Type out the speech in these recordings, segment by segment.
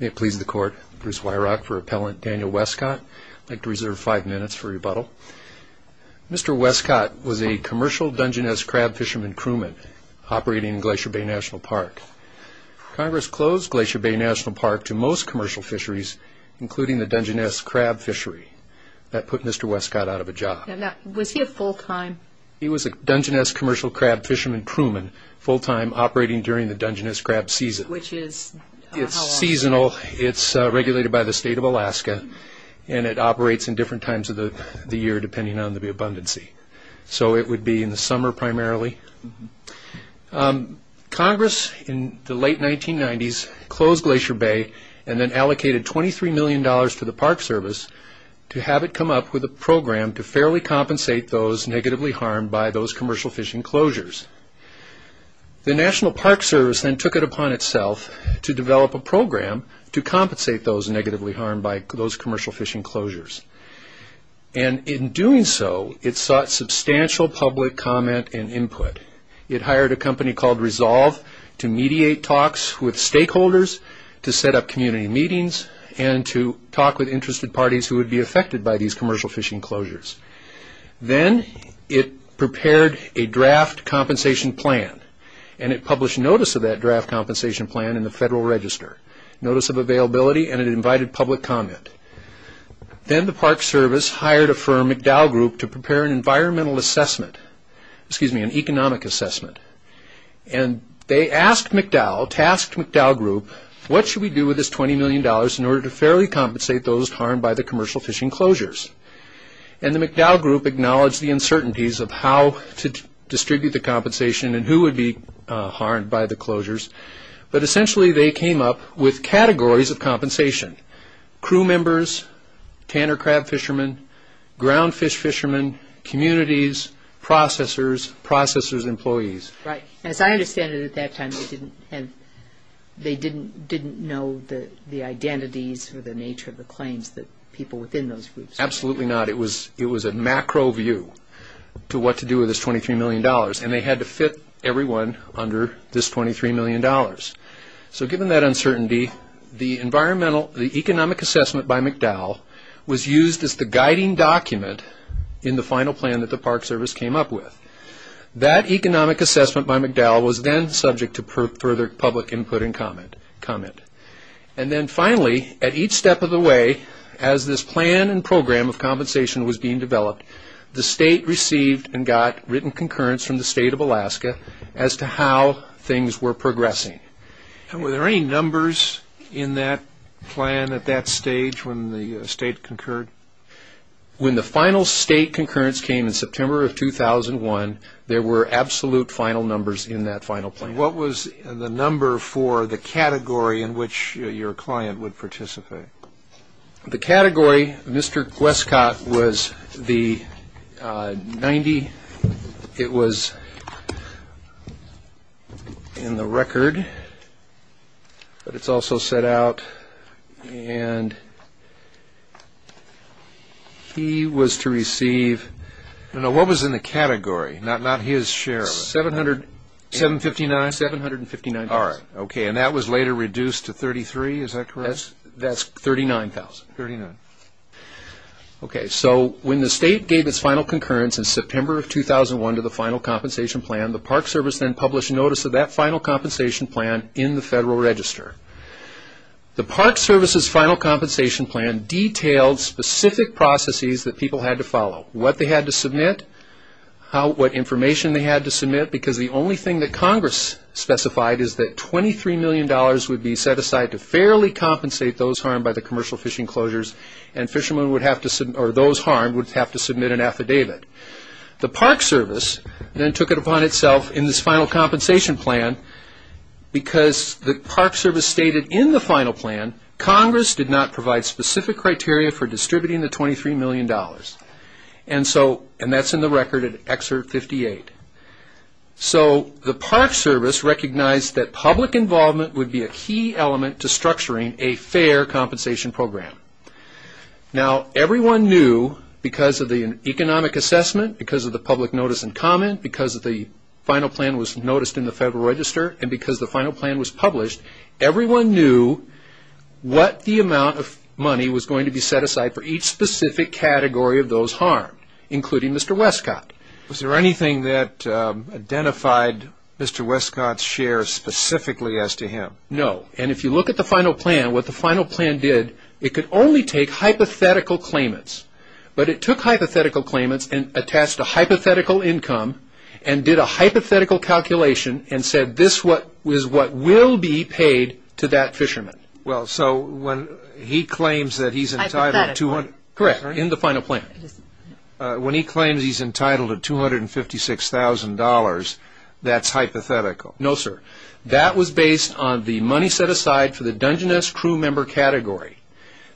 May it please the Court, Bruce Weirach for Appellant Daniel Westcott. I'd like to reserve five minutes for rebuttal. Mr. Westcott was a commercial Dungeness crab fisherman crewman operating in Glacier Bay National Park. Congress closed Glacier Bay National Park to most commercial fisheries, including the Dungeness crab fishery. That put Mr. Westcott out of a job. Was he a full-time... He was a Dungeness commercial crab fisherman crewman, full-time, operating during the Dungeness crab season. Which is... It's seasonal, it's regulated by the state of Alaska, and it operates in different times of the year depending on the abundancy. So it would be in the summer primarily. Congress, in the late 1990s, closed Glacier Bay and then allocated $23 million to the Park Service to have it come up with a program to fairly compensate those negatively harmed by those commercial fish enclosures. The National Park Service then took it upon itself to develop a program to compensate those negatively harmed by those commercial fish enclosures. And in doing so, it sought substantial public comment and input. It hired a company called Resolve to mediate talks with stakeholders, to set up community meetings, and to talk with interested parties who would be affected by these commercial fish enclosures. Then it prepared a draft compensation plan, and it published notice of that draft compensation plan in the Federal Register. Notice of availability, and it invited public comment. Then the Park Service hired a firm, McDowell Group, to prepare an environmental assessment, excuse me, an economic assessment. And they asked McDowell, tasked McDowell Group, what should we do with this $20 million in order to fairly compensate those harmed by the commercial fish enclosures? And the McDowell Group acknowledged the uncertainties of how to distribute the compensation and who would be harmed by the closures. But essentially, they came up with categories of compensation. Crew members, tanner crab fishermen, ground fish fishermen, communities, processors, processors' employees. Right. As I understand it at that time, they didn't know the identities or the nature of the claims that people within those groups had. Absolutely not. It was a macro view to what to do with this $23 million, and they had to fit everyone under this $23 million. So given that uncertainty, the economic assessment by McDowell was used as the guiding document in the final plan that the Park Service came up with. That economic assessment by McDowell was then subject to further public input and comment. And then finally, at each step of the way, as this plan and program of compensation was being developed, the state received and got written concurrence from the state of Alaska as to how things were progressing. Were there any numbers in that plan at that stage when the state concurred? When the final state concurrence came in September of 2001, there were absolute final numbers in that final plan. And what was the number for the category in which your client would participate? The category, Mr. Gwestcott, was the 90. It was in the record, but it's also set out. And he was to receive... No, no, what was in the category, not his share of it? $759,000. And that was later reduced to $33,000, is that correct? That's $39,000. So when the state gave its final concurrence in September of 2001 to the final compensation plan, the Park Service then published notice of that final compensation plan in the Federal Register. detailed specific processes that people had to follow. What they had to submit, what information they had to submit, because the only thing that Congress specified is that $23 million would be set aside to fairly compensate those harmed by the commercial fishing closures, and those harmed would have to submit an affidavit. The Park Service then took it upon itself in this final compensation plan because the Park Service stated in the final plan Congress did not provide specific criteria for distributing the $23 million. And that's in the record at Excerpt 58. So the Park Service recognized that public involvement would be a key element to structuring a fair compensation program. Now, everyone knew because of the economic assessment, because of the public notice and comment, because the final plan was noticed in the Federal Register, and because the final plan was published, everyone knew what the amount of money was going to be set aside for each specific category of those harmed, including Mr. Westcott. Was there anything that identified Mr. Westcott's share specifically as to him? No, and if you look at the final plan, what the final plan did, it could only take hypothetical claimants, but it took hypothetical claimants and attached a hypothetical income and did a hypothetical calculation and said this is what will be paid to that fisherman. Well, so when he claims that he's entitled to $256,000, that's hypothetical? No, sir. That was based on the money set aside for the Dungeness crew member category.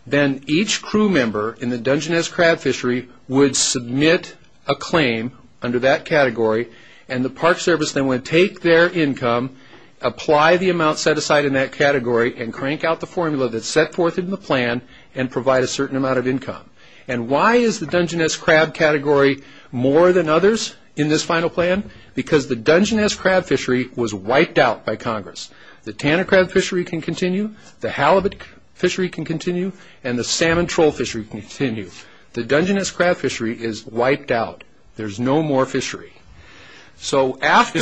Then each crew member in the Dungeness crab fishery would submit a claim under that category, and the Park Service then would take their income, apply the amount set aside in that category, and crank out the formula that's set forth in the plan and provide a certain amount of income. And why is the Dungeness crab category more than others in this final plan? Because the Dungeness crab fishery was wiped out by Congress. The Tanner crab fishery can continue, the halibut fishery can continue, and the salmon troll fishery can continue. The Dungeness crab fishery is wiped out. There's no more fishery. He's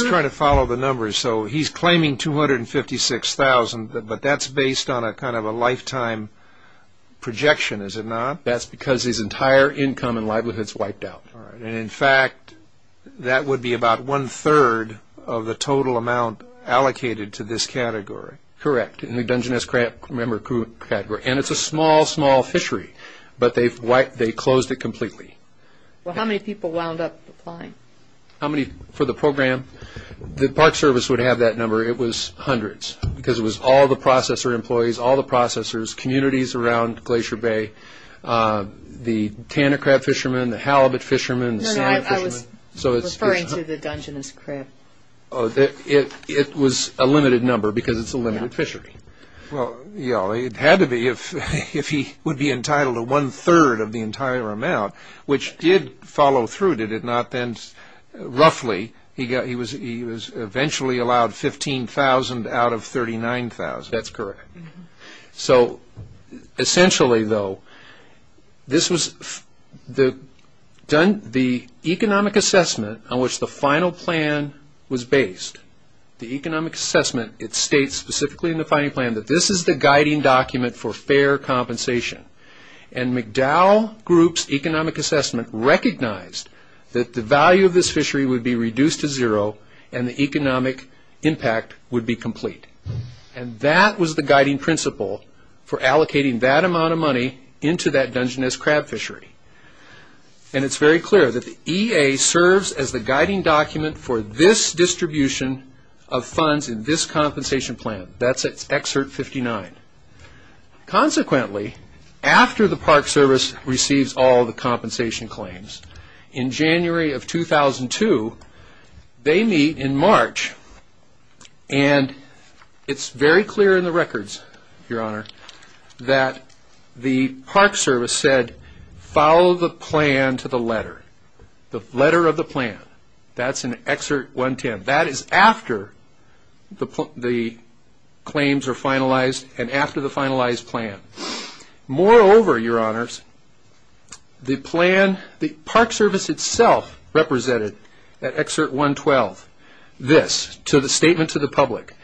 trying to follow the numbers, so he's claiming $256,000, but that's based on a lifetime projection, is it not? That's because his entire income and livelihood is wiped out. In fact, that would be about one-third of the total amount allocated to this category. Correct, in the Dungeness crab member category. And it's a small, small fishery, but they closed it completely. Well, how many people wound up applying? How many for the program? The Park Service would have that number. It was hundreds because it was all the processor employees, all the processors, communities around Glacier Bay, the Tanner crab fishermen, the halibut fishermen, the salmon fishermen. No, no, I was referring to the Dungeness crab. It was a limited number because it's a limited fishery. Well, it had to be if he would be entitled to one-third of the entire amount, which did follow through, did it not? Then roughly he was eventually allowed $15,000 out of $39,000. That's correct. So essentially, though, this was the economic assessment on which the final plan was based. The economic assessment, it states specifically in the final plan that this is the guiding document for fair compensation. And McDowell Group's economic assessment recognized that the value of this fishery would be reduced to zero and the economic impact would be complete. And that was the guiding principle for allocating that amount of money into that Dungeness crab fishery. And it's very clear that the EA serves as the guiding document for this distribution of funds in this compensation plan. That's at excerpt 59. Consequently, after the Park Service receives all the compensation claims, in January of 2002, they meet in March. And it's very clear in the records, Your Honor, that the Park Service said, follow the plan to the letter, the letter of the plan. That's in Excerpt 110. That is after the claims are finalized and after the finalized plan. Moreover, Your Honors, the Park Service itself represented at Excerpt 112 this, to the statement to the public,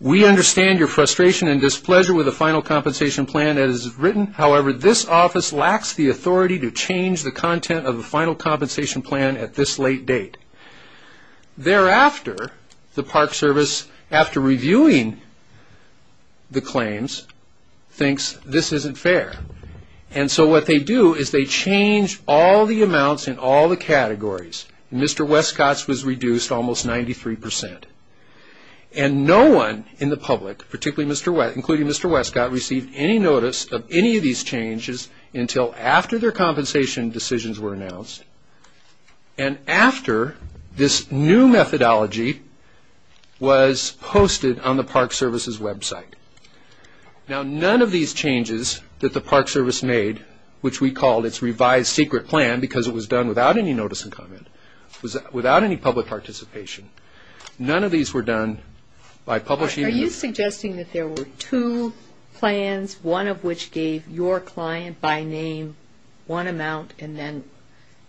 we understand your frustration and displeasure with the final compensation plan as written, however, this office lacks the authority to change the content of the final compensation plan at this late date. Thereafter, the Park Service, after reviewing the claims, thinks this isn't fair. And so what they do is they change all the amounts in all the categories. Mr. Westcott's was reduced almost 93%. And no one in the public, particularly Mr. Westcott, including Mr. Westcott, received any notice of any of these changes until after their compensation decisions were announced and after this new methodology was posted on the Park Service's website. Now, none of these changes that the Park Service made, which we called its revised secret plan because it was done without any notice and comment, without any public participation, none of these were done by publishing. Are you suggesting that there were two plans, one of which gave your client by name one amount and then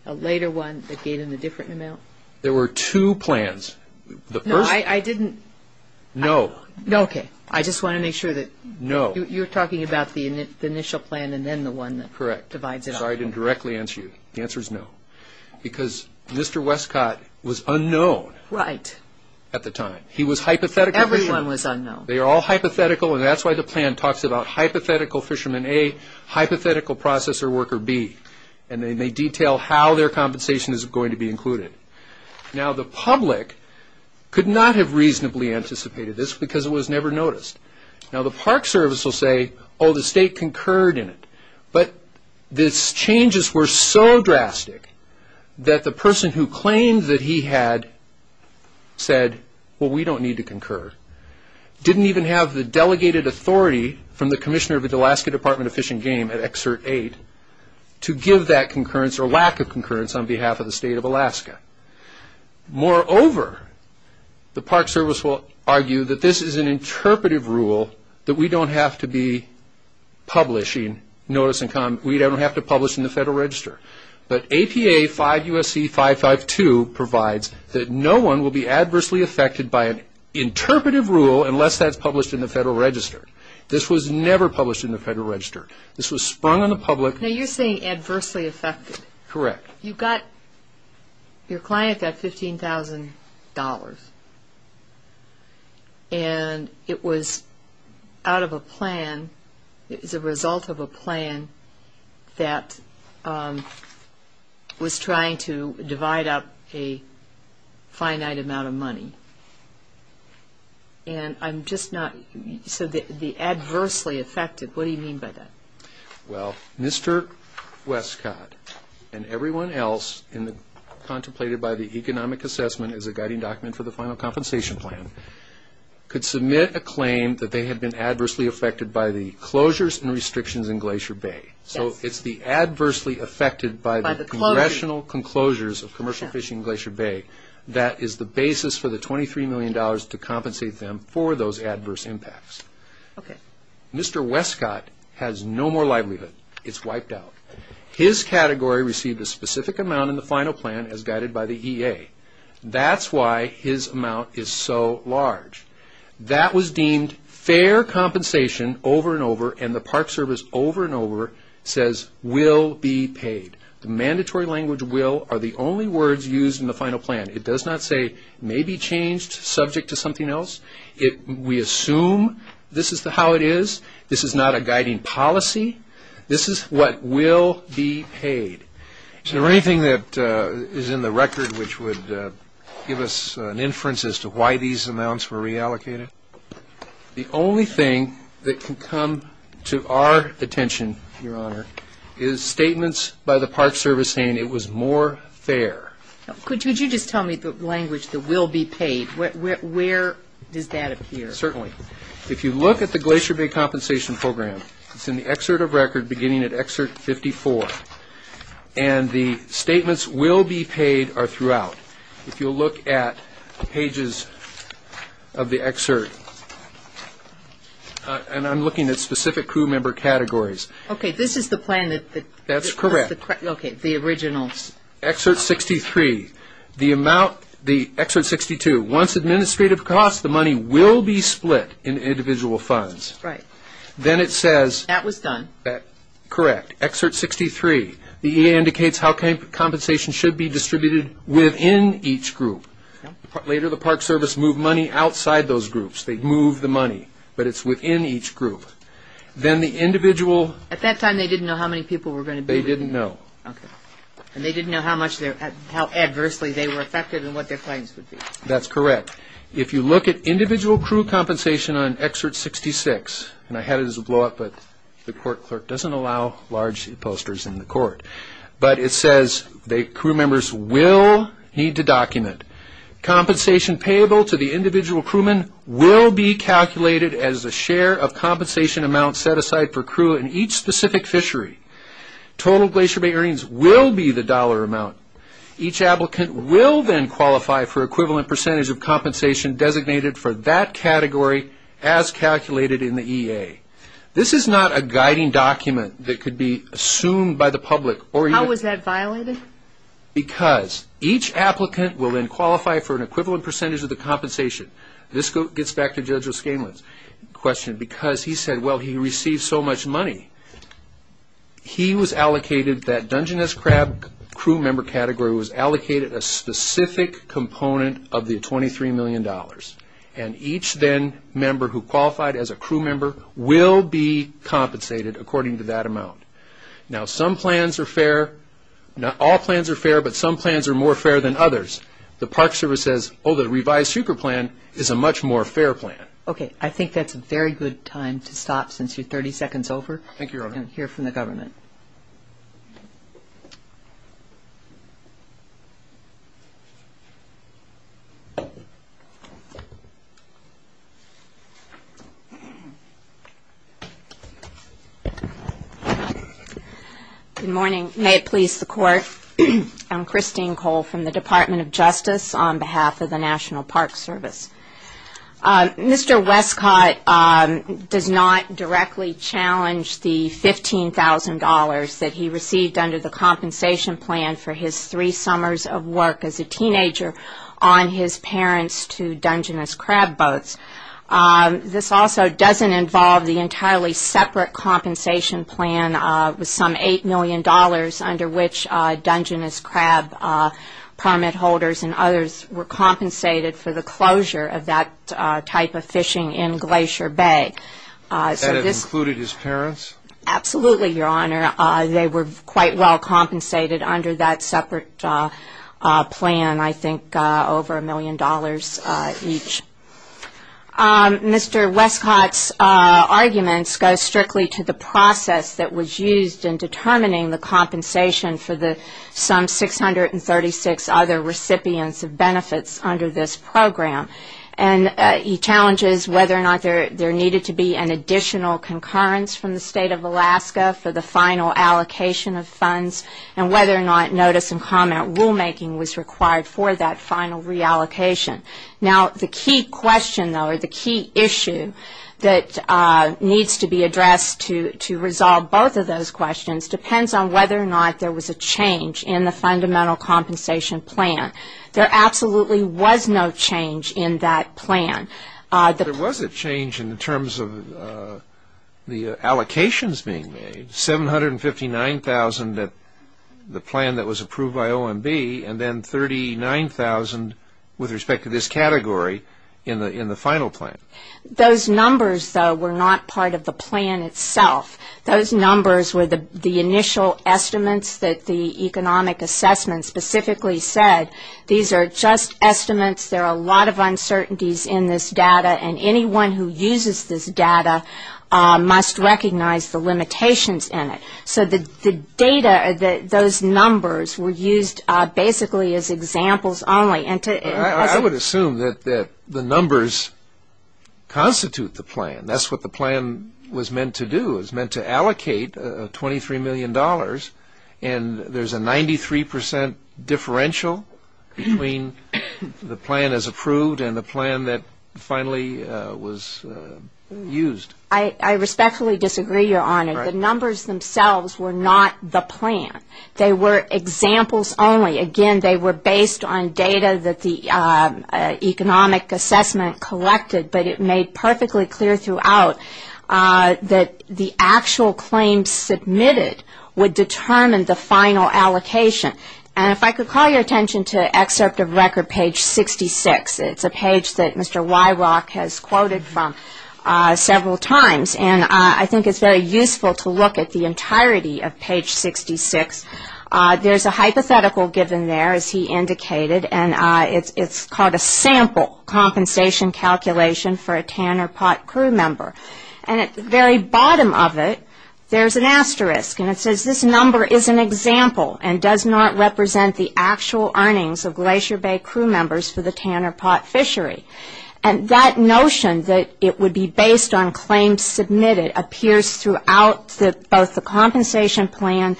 a later one that gave him a different amount? There were two plans. No, I didn't. No. No, okay. I just want to make sure that you're talking about the initial plan and then the one that divides it up. Correct. I'm sorry I didn't directly answer you. The answer is no. Because Mr. Westcott was unknown at the time. He was hypothetical. Everyone was unknown. They were all hypothetical, and that's why the plan talks about hypothetical fisherman A, hypothetical processor worker B, and they detail how their compensation is going to be included. Now, the public could not have reasonably anticipated this because it was never noticed. Now, the Park Service will say, oh, the state concurred in it, but these changes were so drastic that the person who claimed that he had said, well, we don't need to concur, didn't even have the delegated authority from the commissioner of the Alaska Department of Fish and Game at Excerpt 8 to give that concurrence or lack of concurrence on behalf of the state of Alaska. Moreover, the Park Service will argue that this is an interpretive rule, that we don't have to be publishing notice and comment. We don't have to publish in the Federal Register. But APA 5 U.S.C. 552 provides that no one will be adversely affected by an interpretive rule unless that's published in the Federal Register. This was never published in the Federal Register. This was sprung on the public. Now, you're saying adversely affected. Correct. You got, your client got $15,000, and it was out of a plan, it was a result of a plan that was trying to divide up a finite amount of money. And I'm just not, so the adversely affected, what do you mean by that? Well, Mr. Westcott and everyone else contemplated by the economic assessment as a guiding document for the final compensation plan could submit a claim that they had been adversely affected by the closures and restrictions in Glacier Bay. So it's the adversely affected by the congressional conclosures of commercial fishing in Glacier Bay that is the basis for the $23 million to compensate them for those adverse impacts. Okay. Mr. Westcott has no more livelihood. It's wiped out. His category received a specific amount in the final plan as guided by the EA. That's why his amount is so large. That was deemed fair compensation over and over, and the Park Service over and over says will be paid. The mandatory language will are the only words used in the final plan. It does not say may be changed subject to something else. We assume this is how it is. This is not a guiding policy. This is what will be paid. Is there anything that is in the record which would give us an inference as to why these amounts were reallocated? The only thing that can come to our attention, Your Honor, is statements by the Park Service saying it was more fair. Could you just tell me the language, the will be paid? Where does that appear? Certainly. If you look at the Glacier Bay compensation program, it's in the excerpt of record beginning at excerpt 54, and the statements will be paid are throughout. If you'll look at the pages of the excerpt, and I'm looking at specific crew member categories. Okay. This is the plan that was the original. Excerpt 63, the amount, the excerpt 62, once administrative costs, the money will be split in individual funds. Right. Then it says. That was done. Correct. Excerpt 63, the EA indicates how compensation should be distributed within each group. Later, the Park Service moved money outside those groups. They moved the money, but it's within each group. Then the individual. At that time, they didn't know how many people were going to be. They didn't know. Okay. They didn't know how adversely they were affected and what their claims would be. That's correct. If you look at individual crew compensation on excerpt 66, and I had it as a blow-up, but the court clerk doesn't allow large posters in the court, but it says crew members will need to document. Compensation payable to the individual crewman will be calculated as a share of compensation amount set aside for crew in each specific fishery. Total Glacier Bay earnings will be the dollar amount. Each applicant will then qualify for equivalent percentage of compensation designated for that category as calculated in the EA. This is not a guiding document that could be assumed by the public. How was that violated? Because each applicant will then qualify for an equivalent percentage of the compensation. This gets back to Judge O'Scanlan's question because he said, well, he received so much money. He was allocated that Dungeness Crab crew member category was allocated a specific component of the $23 million, and each then member who qualified as a crew member will be compensated according to that amount. Now, some plans are fair. Not all plans are fair, but some plans are more fair than others. The Park Service says, oh, the revised super plan is a much more fair plan. Okay. I think that's a very good time to stop since you're 30 seconds over. Thank you, Your Honor. And hear from the government. Good morning. May it please the Court. I'm Christine Cole from the Department of Justice on behalf of the National Park Service. Mr. Westcott does not directly challenge the $15,000 that he received under the compensation plan for his three summers of work as a teenager on his parents' two Dungeness Crab boats. This also doesn't involve the entirely separate compensation plan with some $8 million under which Dungeness Crab permit holders and others were compensated for the closure of that type of fishing in Glacier Bay. That included his parents? Absolutely, Your Honor. They were quite well compensated under that separate plan, I think over $1 million each. Mr. Westcott's arguments go strictly to the process that was used in determining the compensation for some 636 other recipients of benefits under this program. And he challenges whether or not there needed to be an additional concurrence from the State of Alaska for the final allocation of funds and whether or not notice and comment rulemaking was required for that final reallocation. Now, the key question, though, or the key issue that needs to be addressed to resolve both of those questions depends on whether or not there was a change in the fundamental compensation plan. There absolutely was no change in that plan. There was a change in terms of the allocations being made. There was $759,000 in the plan that was approved by OMB and then $39,000 with respect to this category in the final plan. Those numbers, though, were not part of the plan itself. Those numbers were the initial estimates that the economic assessment specifically said. These are just estimates. There are a lot of uncertainties in this data, and anyone who uses this data must recognize the limitations in it. So the data, those numbers were used basically as examples only. I would assume that the numbers constitute the plan. That's what the plan was meant to do, was meant to allocate $23 million, and there's a 93 percent differential between the plan as approved and the plan that finally was used. I respectfully disagree, Your Honor. The numbers themselves were not the plan. They were examples only. Again, they were based on data that the economic assessment collected, but it made perfectly clear throughout that the actual claims submitted would determine the final allocation. And if I could call your attention to Excerpt of Record, page 66. It's a page that Mr. Wyrock has quoted from several times, and I think it's very useful to look at the entirety of page 66. There's a hypothetical given there, as he indicated, and it's called a sample compensation calculation for a Tanner Pot crew member. And at the very bottom of it, there's an asterisk, and it says, this number is an example and does not represent the actual earnings of Glacier Bay crew members for the Tanner Pot fishery. And that notion that it would be based on claims submitted appears throughout both the compensation plan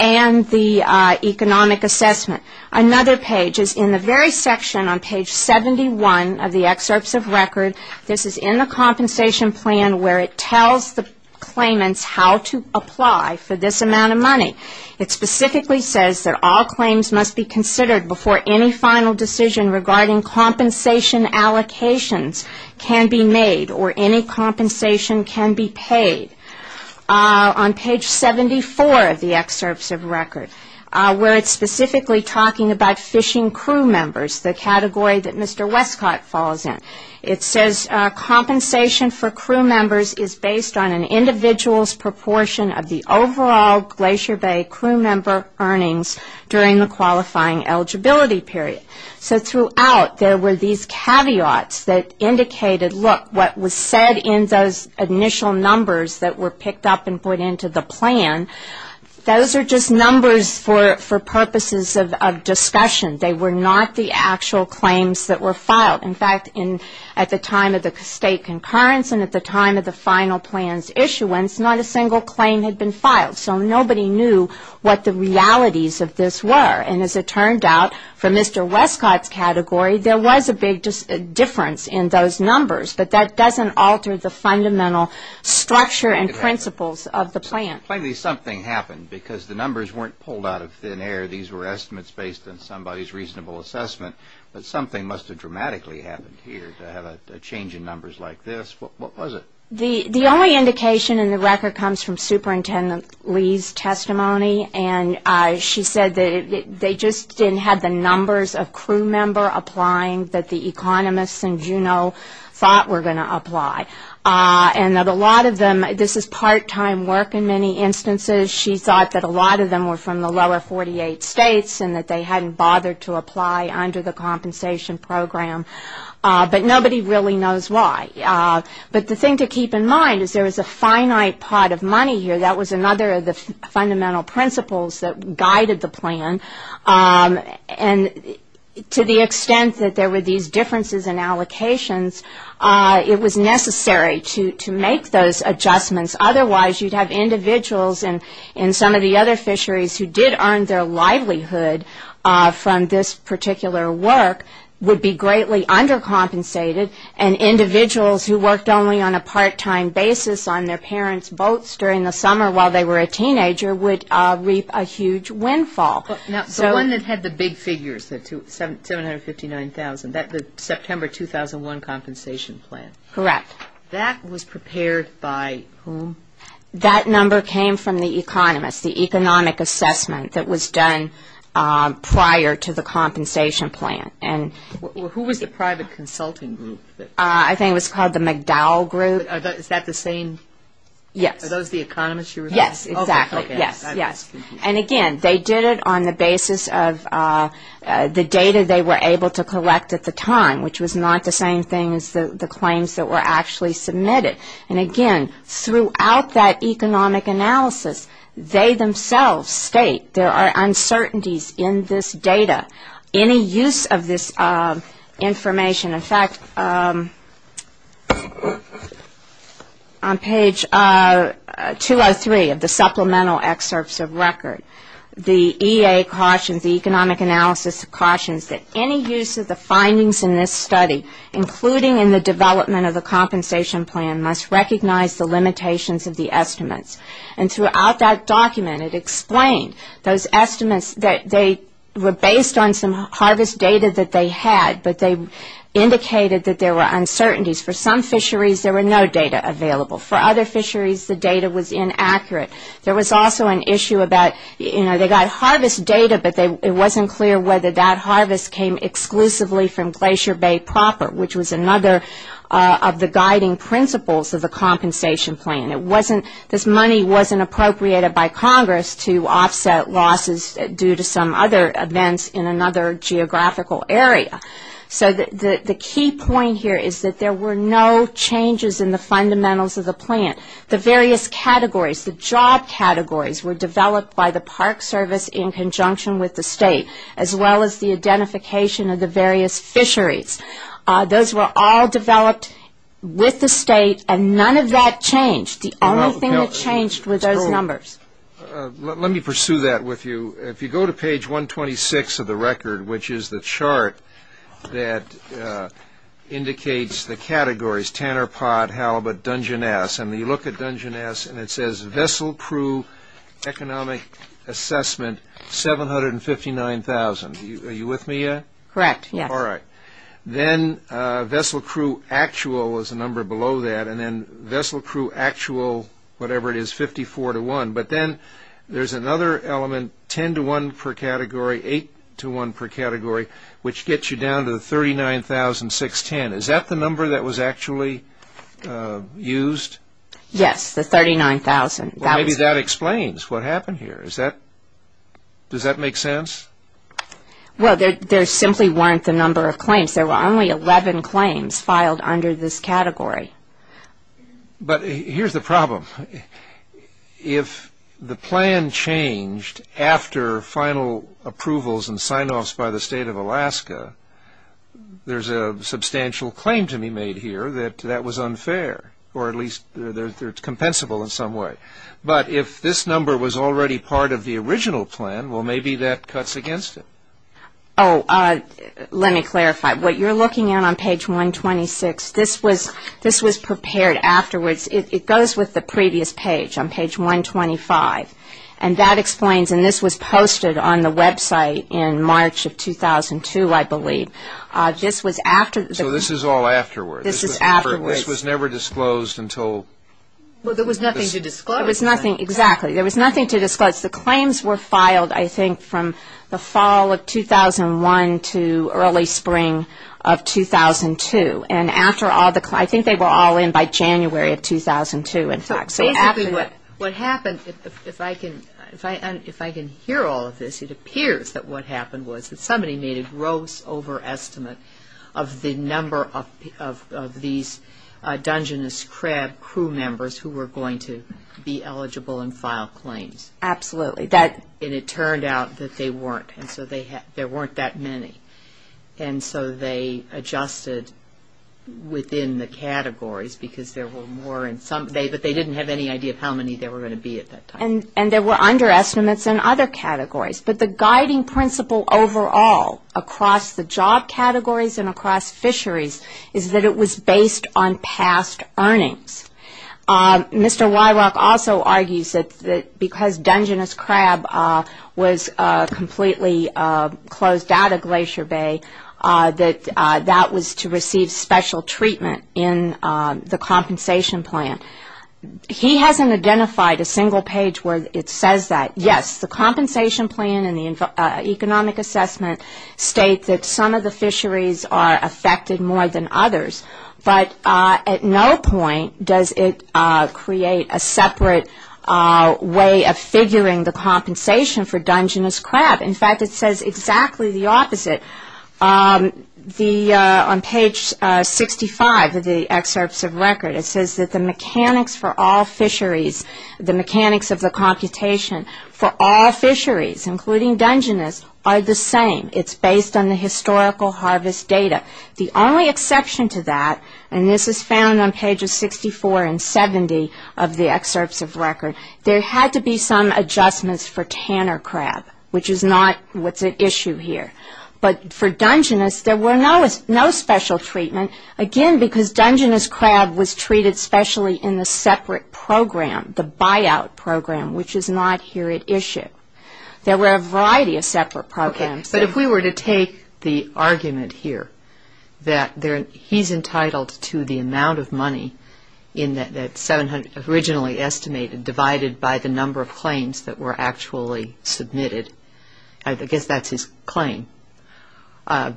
and the economic assessment. Another page is in the very section on page 71 of the Excerpts of Record. This is in the compensation plan where it tells the claimants how to apply for this amount of money. It specifically says that all claims must be considered before any final decision regarding compensation allocations can be made or any compensation can be paid. On page 74 of the Excerpts of Record, where it's specifically talking about fishing crew members, the category that Mr. Westcott falls in. It says compensation for crew members is based on an individual's proportion of the overall Glacier Bay crew member earnings during the qualifying eligibility period. So throughout, there were these caveats that indicated, look, what was said in those initial numbers that were picked up and put into the plan, those are just numbers for purposes of discussion. They were not the actual claims that were filed. In fact, at the time of the state concurrence and at the time of the final plan's issuance, not a single claim had been filed. So nobody knew what the realities of this were. And as it turned out, for Mr. Westcott's category, there was a big difference in those numbers, but that doesn't alter the fundamental structure and principles of the plan. And plainly something happened because the numbers weren't pulled out of thin air. These were estimates based on somebody's reasonable assessment, but something must have dramatically happened here to have a change in numbers like this. What was it? The only indication in the record comes from Superintendent Lee's testimony, and she said that they just didn't have the numbers of crew member applying that the economists in Juneau thought were going to apply. And that a lot of them, this is part-time work in many instances, she thought that a lot of them were from the lower 48 states and that they hadn't bothered to apply under the compensation program. But nobody really knows why. But the thing to keep in mind is there was a finite pot of money here. That was another of the fundamental principles that guided the plan. And to the extent that there were these differences in allocations, it was necessary to make those adjustments. Otherwise, you'd have individuals and some of the other fisheries who did earn their livelihood from this particular work would be greatly undercompensated, and individuals who worked only on a part-time basis on their parents' boats during the summer while they were a teenager would reap a huge windfall. Now, the one that had the big figures, the $759,000, the September 2001 compensation plan. Correct. That was prepared by whom? That number came from the economists, the economic assessment that was done prior to the compensation plan. Who was the private consulting group? I think it was called the McDowell Group. Is that the same? Yes. Are those the economists you were talking about? Yes, exactly. Okay. Yes, yes. And again, they did it on the basis of the data they were able to collect at the time, which was not the same thing as the claims that were actually submitted. And again, throughout that economic analysis, they themselves state there are uncertainties in this data. Any use of this information, in fact, on page 203 of the supplemental excerpts of record, the EA cautions, the economic analysis cautions that any use of the findings in this study, including in the development of the compensation plan, must recognize the limitations of the estimates. And throughout that document, it explained those estimates that they were based on some harvest data that they had, but they indicated that there were uncertainties. For some fisheries, there were no data available. For other fisheries, the data was inaccurate. There was also an issue about, you know, they got harvest data, but it wasn't clear whether that harvest came exclusively from Glacier Bay proper, which was another of the guiding principles of the compensation plan. It wasn't, this money wasn't appropriated by Congress to offset losses due to some other events in another geographical area. So the key point here is that there were no changes in the fundamentals of the plan. The various categories, the job categories, were developed by the Park Service in conjunction with the state, as well as the identification of the various fisheries. Those were all developed with the state, and none of that changed. The only thing that changed were those numbers. Let me pursue that with you. If you go to page 126 of the record, which is the chart that indicates the categories, Tanner Pot, Halibut, Dungeness, and you look at Dungeness, and it says, Vessel Crew Economic Assessment, 759,000. Are you with me yet? Correct, yes. All right. Then Vessel Crew Actual is a number below that, and then Vessel Crew Actual, whatever it is, 54 to 1. But then there's another element, 10 to 1 per category, 8 to 1 per category, which gets you down to the 39,610. Is that the number that was actually used? Yes, the 39,000. Well, maybe that explains what happened here. Does that make sense? Well, there simply weren't the number of claims. There were only 11 claims filed under this category. But here's the problem. If the plan changed after final approvals and sign-offs by the state of Alaska, there's a substantial claim to be made here that that was unfair, or at least it's compensable in some way. But if this number was already part of the original plan, well, maybe that cuts against it. Oh, let me clarify. What you're looking at on page 126, this was prepared afterwards. It goes with the previous page on page 125. And that explains, and this was posted on the website in March of 2002, I believe. So this is all afterwards? This is afterwards. This was never disclosed until? Well, there was nothing to disclose. There was nothing, exactly. There was nothing to disclose. The claims were filed, I think, from the fall of 2001 to early spring of 2002. And after all the claims, I think they were all in by January of 2002, in fact. So basically what happened, if I can hear all of this, it appears that what happened was that somebody made a gross overestimate of the number of these Dungeness Crab crew members who were going to be eligible and file claims. Absolutely. And it turned out that they weren't, and so there weren't that many. And so they adjusted within the categories because there were more in some. But they didn't have any idea of how many there were going to be at that time. And there were underestimates in other categories. But the guiding principle overall across the job categories and across fisheries is that it was based on past earnings. Mr. Wyrock also argues that because Dungeness Crab was completely closed out of Glacier Bay, that that was to receive special treatment in the compensation plan. He hasn't identified a single page where it says that. Yes, the compensation plan and the economic assessment state that some of the fisheries are affected more than others. But at no point does it create a separate way of figuring the compensation for Dungeness Crab. In fact, it says exactly the opposite. On page 65 of the excerpts of record, it says that the mechanics for all fisheries, the mechanics of the computation for all fisheries, including Dungeness, are the same. It's based on the historical harvest data. The only exception to that, and this is found on pages 64 and 70 of the excerpts of record, there had to be some adjustments for Tanner Crab, which is not what's at issue here. But for Dungeness, there were no special treatment, again, because Dungeness Crab was treated specially in the separate program, the buyout program, which is not here at issue. There were a variety of separate programs. But if we were to take the argument here that he's entitled to the amount of money in that 700 originally estimated, divided by the number of claims that were actually submitted, I guess that's his claim as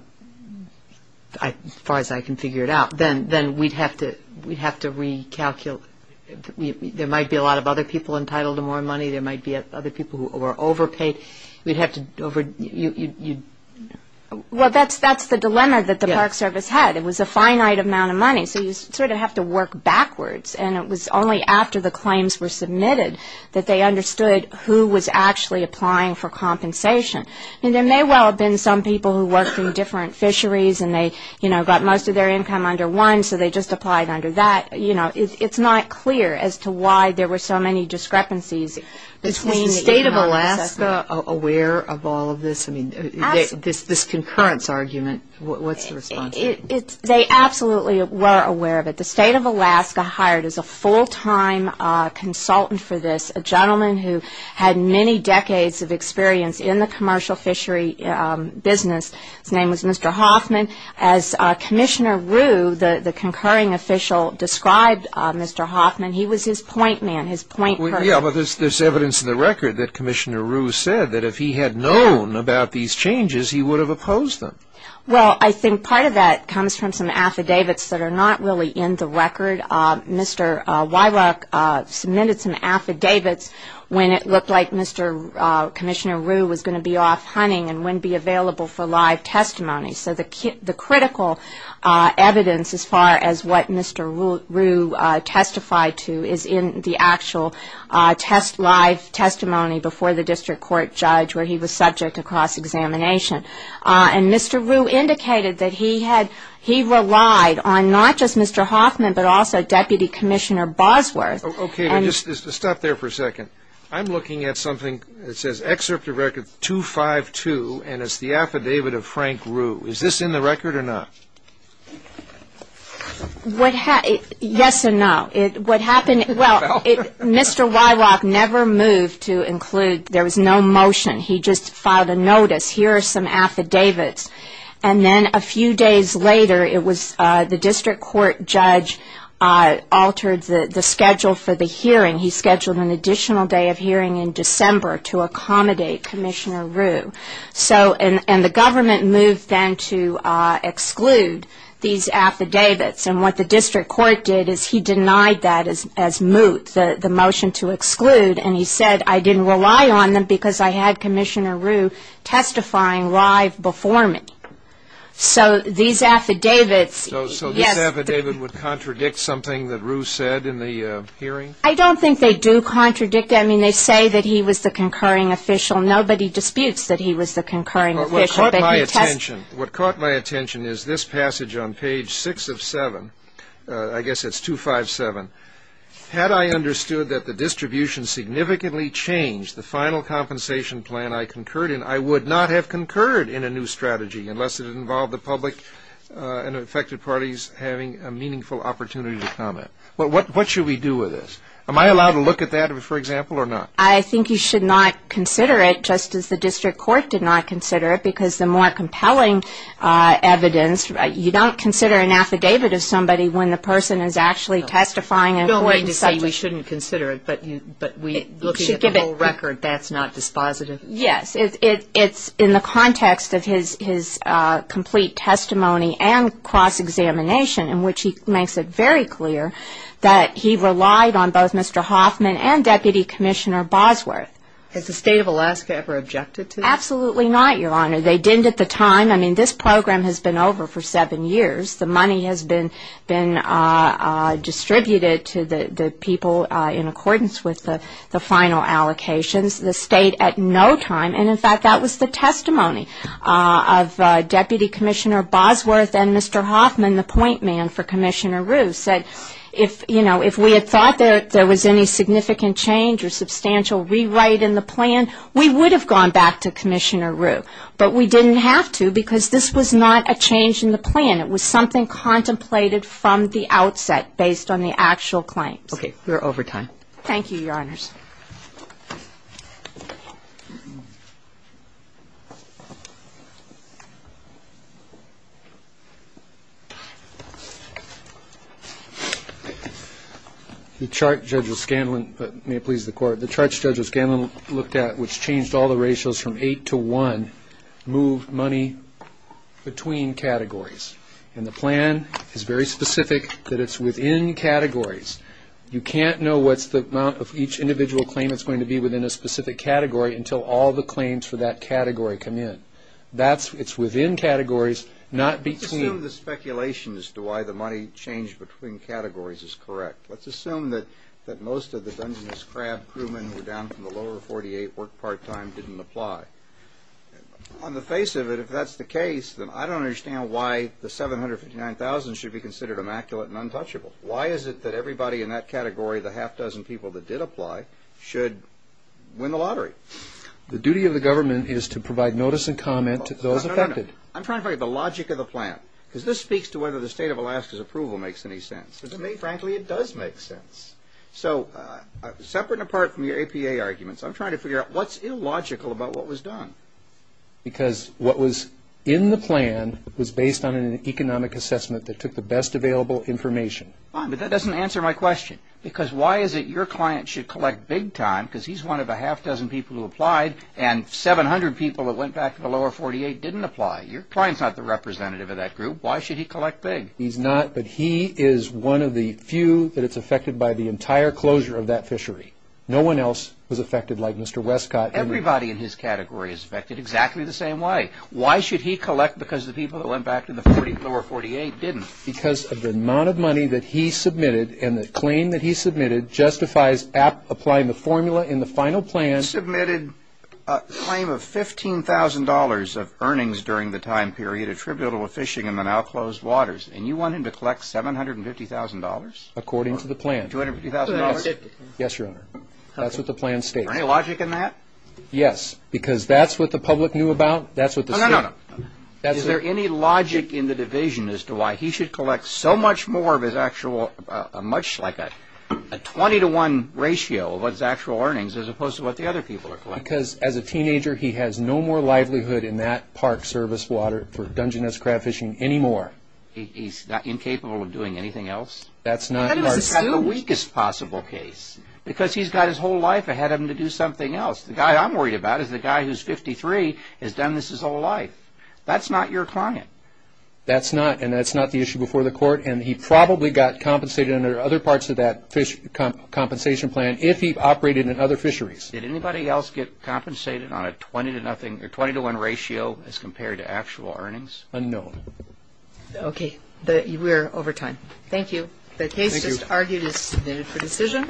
far as I can figure it out, then we'd have to recalculate. There might be a lot of other people entitled to more money. There might be other people who are overpaid. We'd have to over- Well, that's the dilemma that the Park Service had. It was a finite amount of money, so you sort of have to work backwards. And it was only after the claims were submitted that they understood who was actually applying for compensation. I mean, there may well have been some people who worked in different fisheries, and they got most of their income under one, so they just applied under that. You know, it's not clear as to why there were so many discrepancies between the email assessment. Is the state of Alaska aware of all of this? I mean, this concurrence argument, what's the response? They absolutely were aware of it. The state of Alaska hired as a full-time consultant for this a gentleman who had many decades of experience in the commercial fishery business. His name was Mr. Hoffman. As Commissioner Rue, the concurring official, described Mr. Hoffman, he was his point man, his point person. Yeah, but there's evidence in the record that Commissioner Rue said that if he had known about these changes, he would have opposed them. Well, I think part of that comes from some affidavits that are not really in the record. Mr. Weirach submitted some affidavits when it looked like Commissioner Rue was going to be off hunting and wouldn't be available for live testimony. So the critical evidence, as far as what Mr. Rue testified to, is in the actual live testimony before the district court judge where he was subject to cross-examination. And Mr. Rue indicated that he relied on not just Mr. Hoffman, but also Deputy Commissioner Bosworth. Okay, stop there for a second. I'm looking at something that says Excerpt of Record 252, and it's the affidavit of Frank Rue. Is this in the record or not? Yes and no. What happened, well, Mr. Weirach never moved to include, there was no motion. He just filed a notice, here are some affidavits. And then a few days later, the district court judge altered the schedule for the hearing. He scheduled an additional day of hearing in December to accommodate Commissioner Rue. And the government moved then to exclude these affidavits. And what the district court did is he denied that as moot, the motion to exclude. And he said, I didn't rely on them because I had Commissioner Rue testifying live before me. So these affidavits, yes. So this affidavit would contradict something that Rue said in the hearing? I don't think they do contradict it. I mean, they say that he was the concurring official. Nobody disputes that he was the concurring official. What caught my attention is this passage on page 6 of 7, I guess it's 257. Had I understood that the distribution significantly changed the final compensation plan I concurred in, I would not have concurred in a new strategy unless it involved the public and affected parties having a meaningful opportunity to comment. What should we do with this? Am I allowed to look at that, for example, or not? I think you should not consider it, just as the district court did not consider it, because the more compelling evidence, you don't consider an affidavit of somebody when the person is actually testifying. You don't mean to say we shouldn't consider it, but looking at the whole record, that's not dispositive? Yes. It's in the context of his complete testimony and cross-examination, in which he makes it very clear that he relied on both Mr. Hoffman and Deputy Commissioner Bosworth. Has the state of Alaska ever objected to this? Absolutely not, Your Honor. They didn't at the time. I mean, this program has been over for seven years. The money has been distributed to the people in accordance with the final allocations. The state at no time, and, in fact, that was the testimony of Deputy Commissioner Bosworth and Mr. Hoffman, the point man for Commissioner Rue, said, you know, if we had thought there was any significant change or substantial rewrite in the plan, we would have gone back to Commissioner Rue. But we didn't have to, because this was not a change in the plan. It was something contemplated from the outset based on the actual claims. Okay. We're over time. Thank you, Your Honors. The chart Judge O'Scanlan, may it please the Court, the chart Judge O'Scanlan looked at, which changed all the ratios from eight to one, moved money between categories. And the plan is very specific that it's within categories. You can't know what's the amount of each individual claim that's going to be within a specific category until all the claims for that category come in. It's within categories, not between. Let's assume the speculation as to why the money changed between categories is correct. Let's assume that most of the Dungeness Crab crewmen who were down from the lower 48 worked part-time, didn't apply. On the face of it, if that's the case, then I don't understand why the 759,000 should be considered immaculate and untouchable. Why is it that everybody in that category, the half-dozen people that did apply, should win the lottery? The duty of the government is to provide notice and comment to those affected. I'm trying to find the logic of the plan, because this speaks to whether the State of Alaska's approval makes any sense. To me, frankly, it does make sense. So, separate and apart from your APA arguments, I'm trying to figure out what's illogical about what was done. Because what was in the plan was based on an economic assessment that took the best available information. Fine, but that doesn't answer my question. Because why is it your client should collect big-time, because he's one of the half-dozen people who applied, and 700 people that went back to the lower 48 didn't apply. Your client's not the representative of that group. Why should he collect big? He's not, but he is one of the few that is affected by the entire closure of that fishery. No one else was affected like Mr. Westcott. Everybody in his category is affected exactly the same way. Why should he collect because the people that went back to the lower 48 didn't? Because of the amount of money that he submitted, and the claim that he submitted justifies applying the formula in the final plan. He submitted a claim of $15,000 of earnings during the time period attributable to fishing in the now-closed waters. And you want him to collect $750,000? According to the plan. $750,000? Yes, Your Honor. That's what the plan states. Is there any logic in that? Yes, because that's what the public knew about. No, no, no. Is there any logic in the division as to why he should collect so much more of his actual, much like a 20-to-1 ratio of his actual earnings, as opposed to what the other people are collecting? Because as a teenager, he has no more livelihood in that park service water for Dungeness crab fishing anymore. He's not incapable of doing anything else? That's not large. That is the weakest possible case. Because he's got his whole life ahead of him to do something else. The guy I'm worried about is the guy who's 53, has done this his whole life. That's not your client. That's not, and that's not the issue before the court, and he probably got compensated under other parts of that compensation plan if he operated in other fisheries. Did anybody else get compensated on a 20-to-1 ratio as compared to actual earnings? No. Okay. We're over time. Thank you. The case just argued is submitted for decision.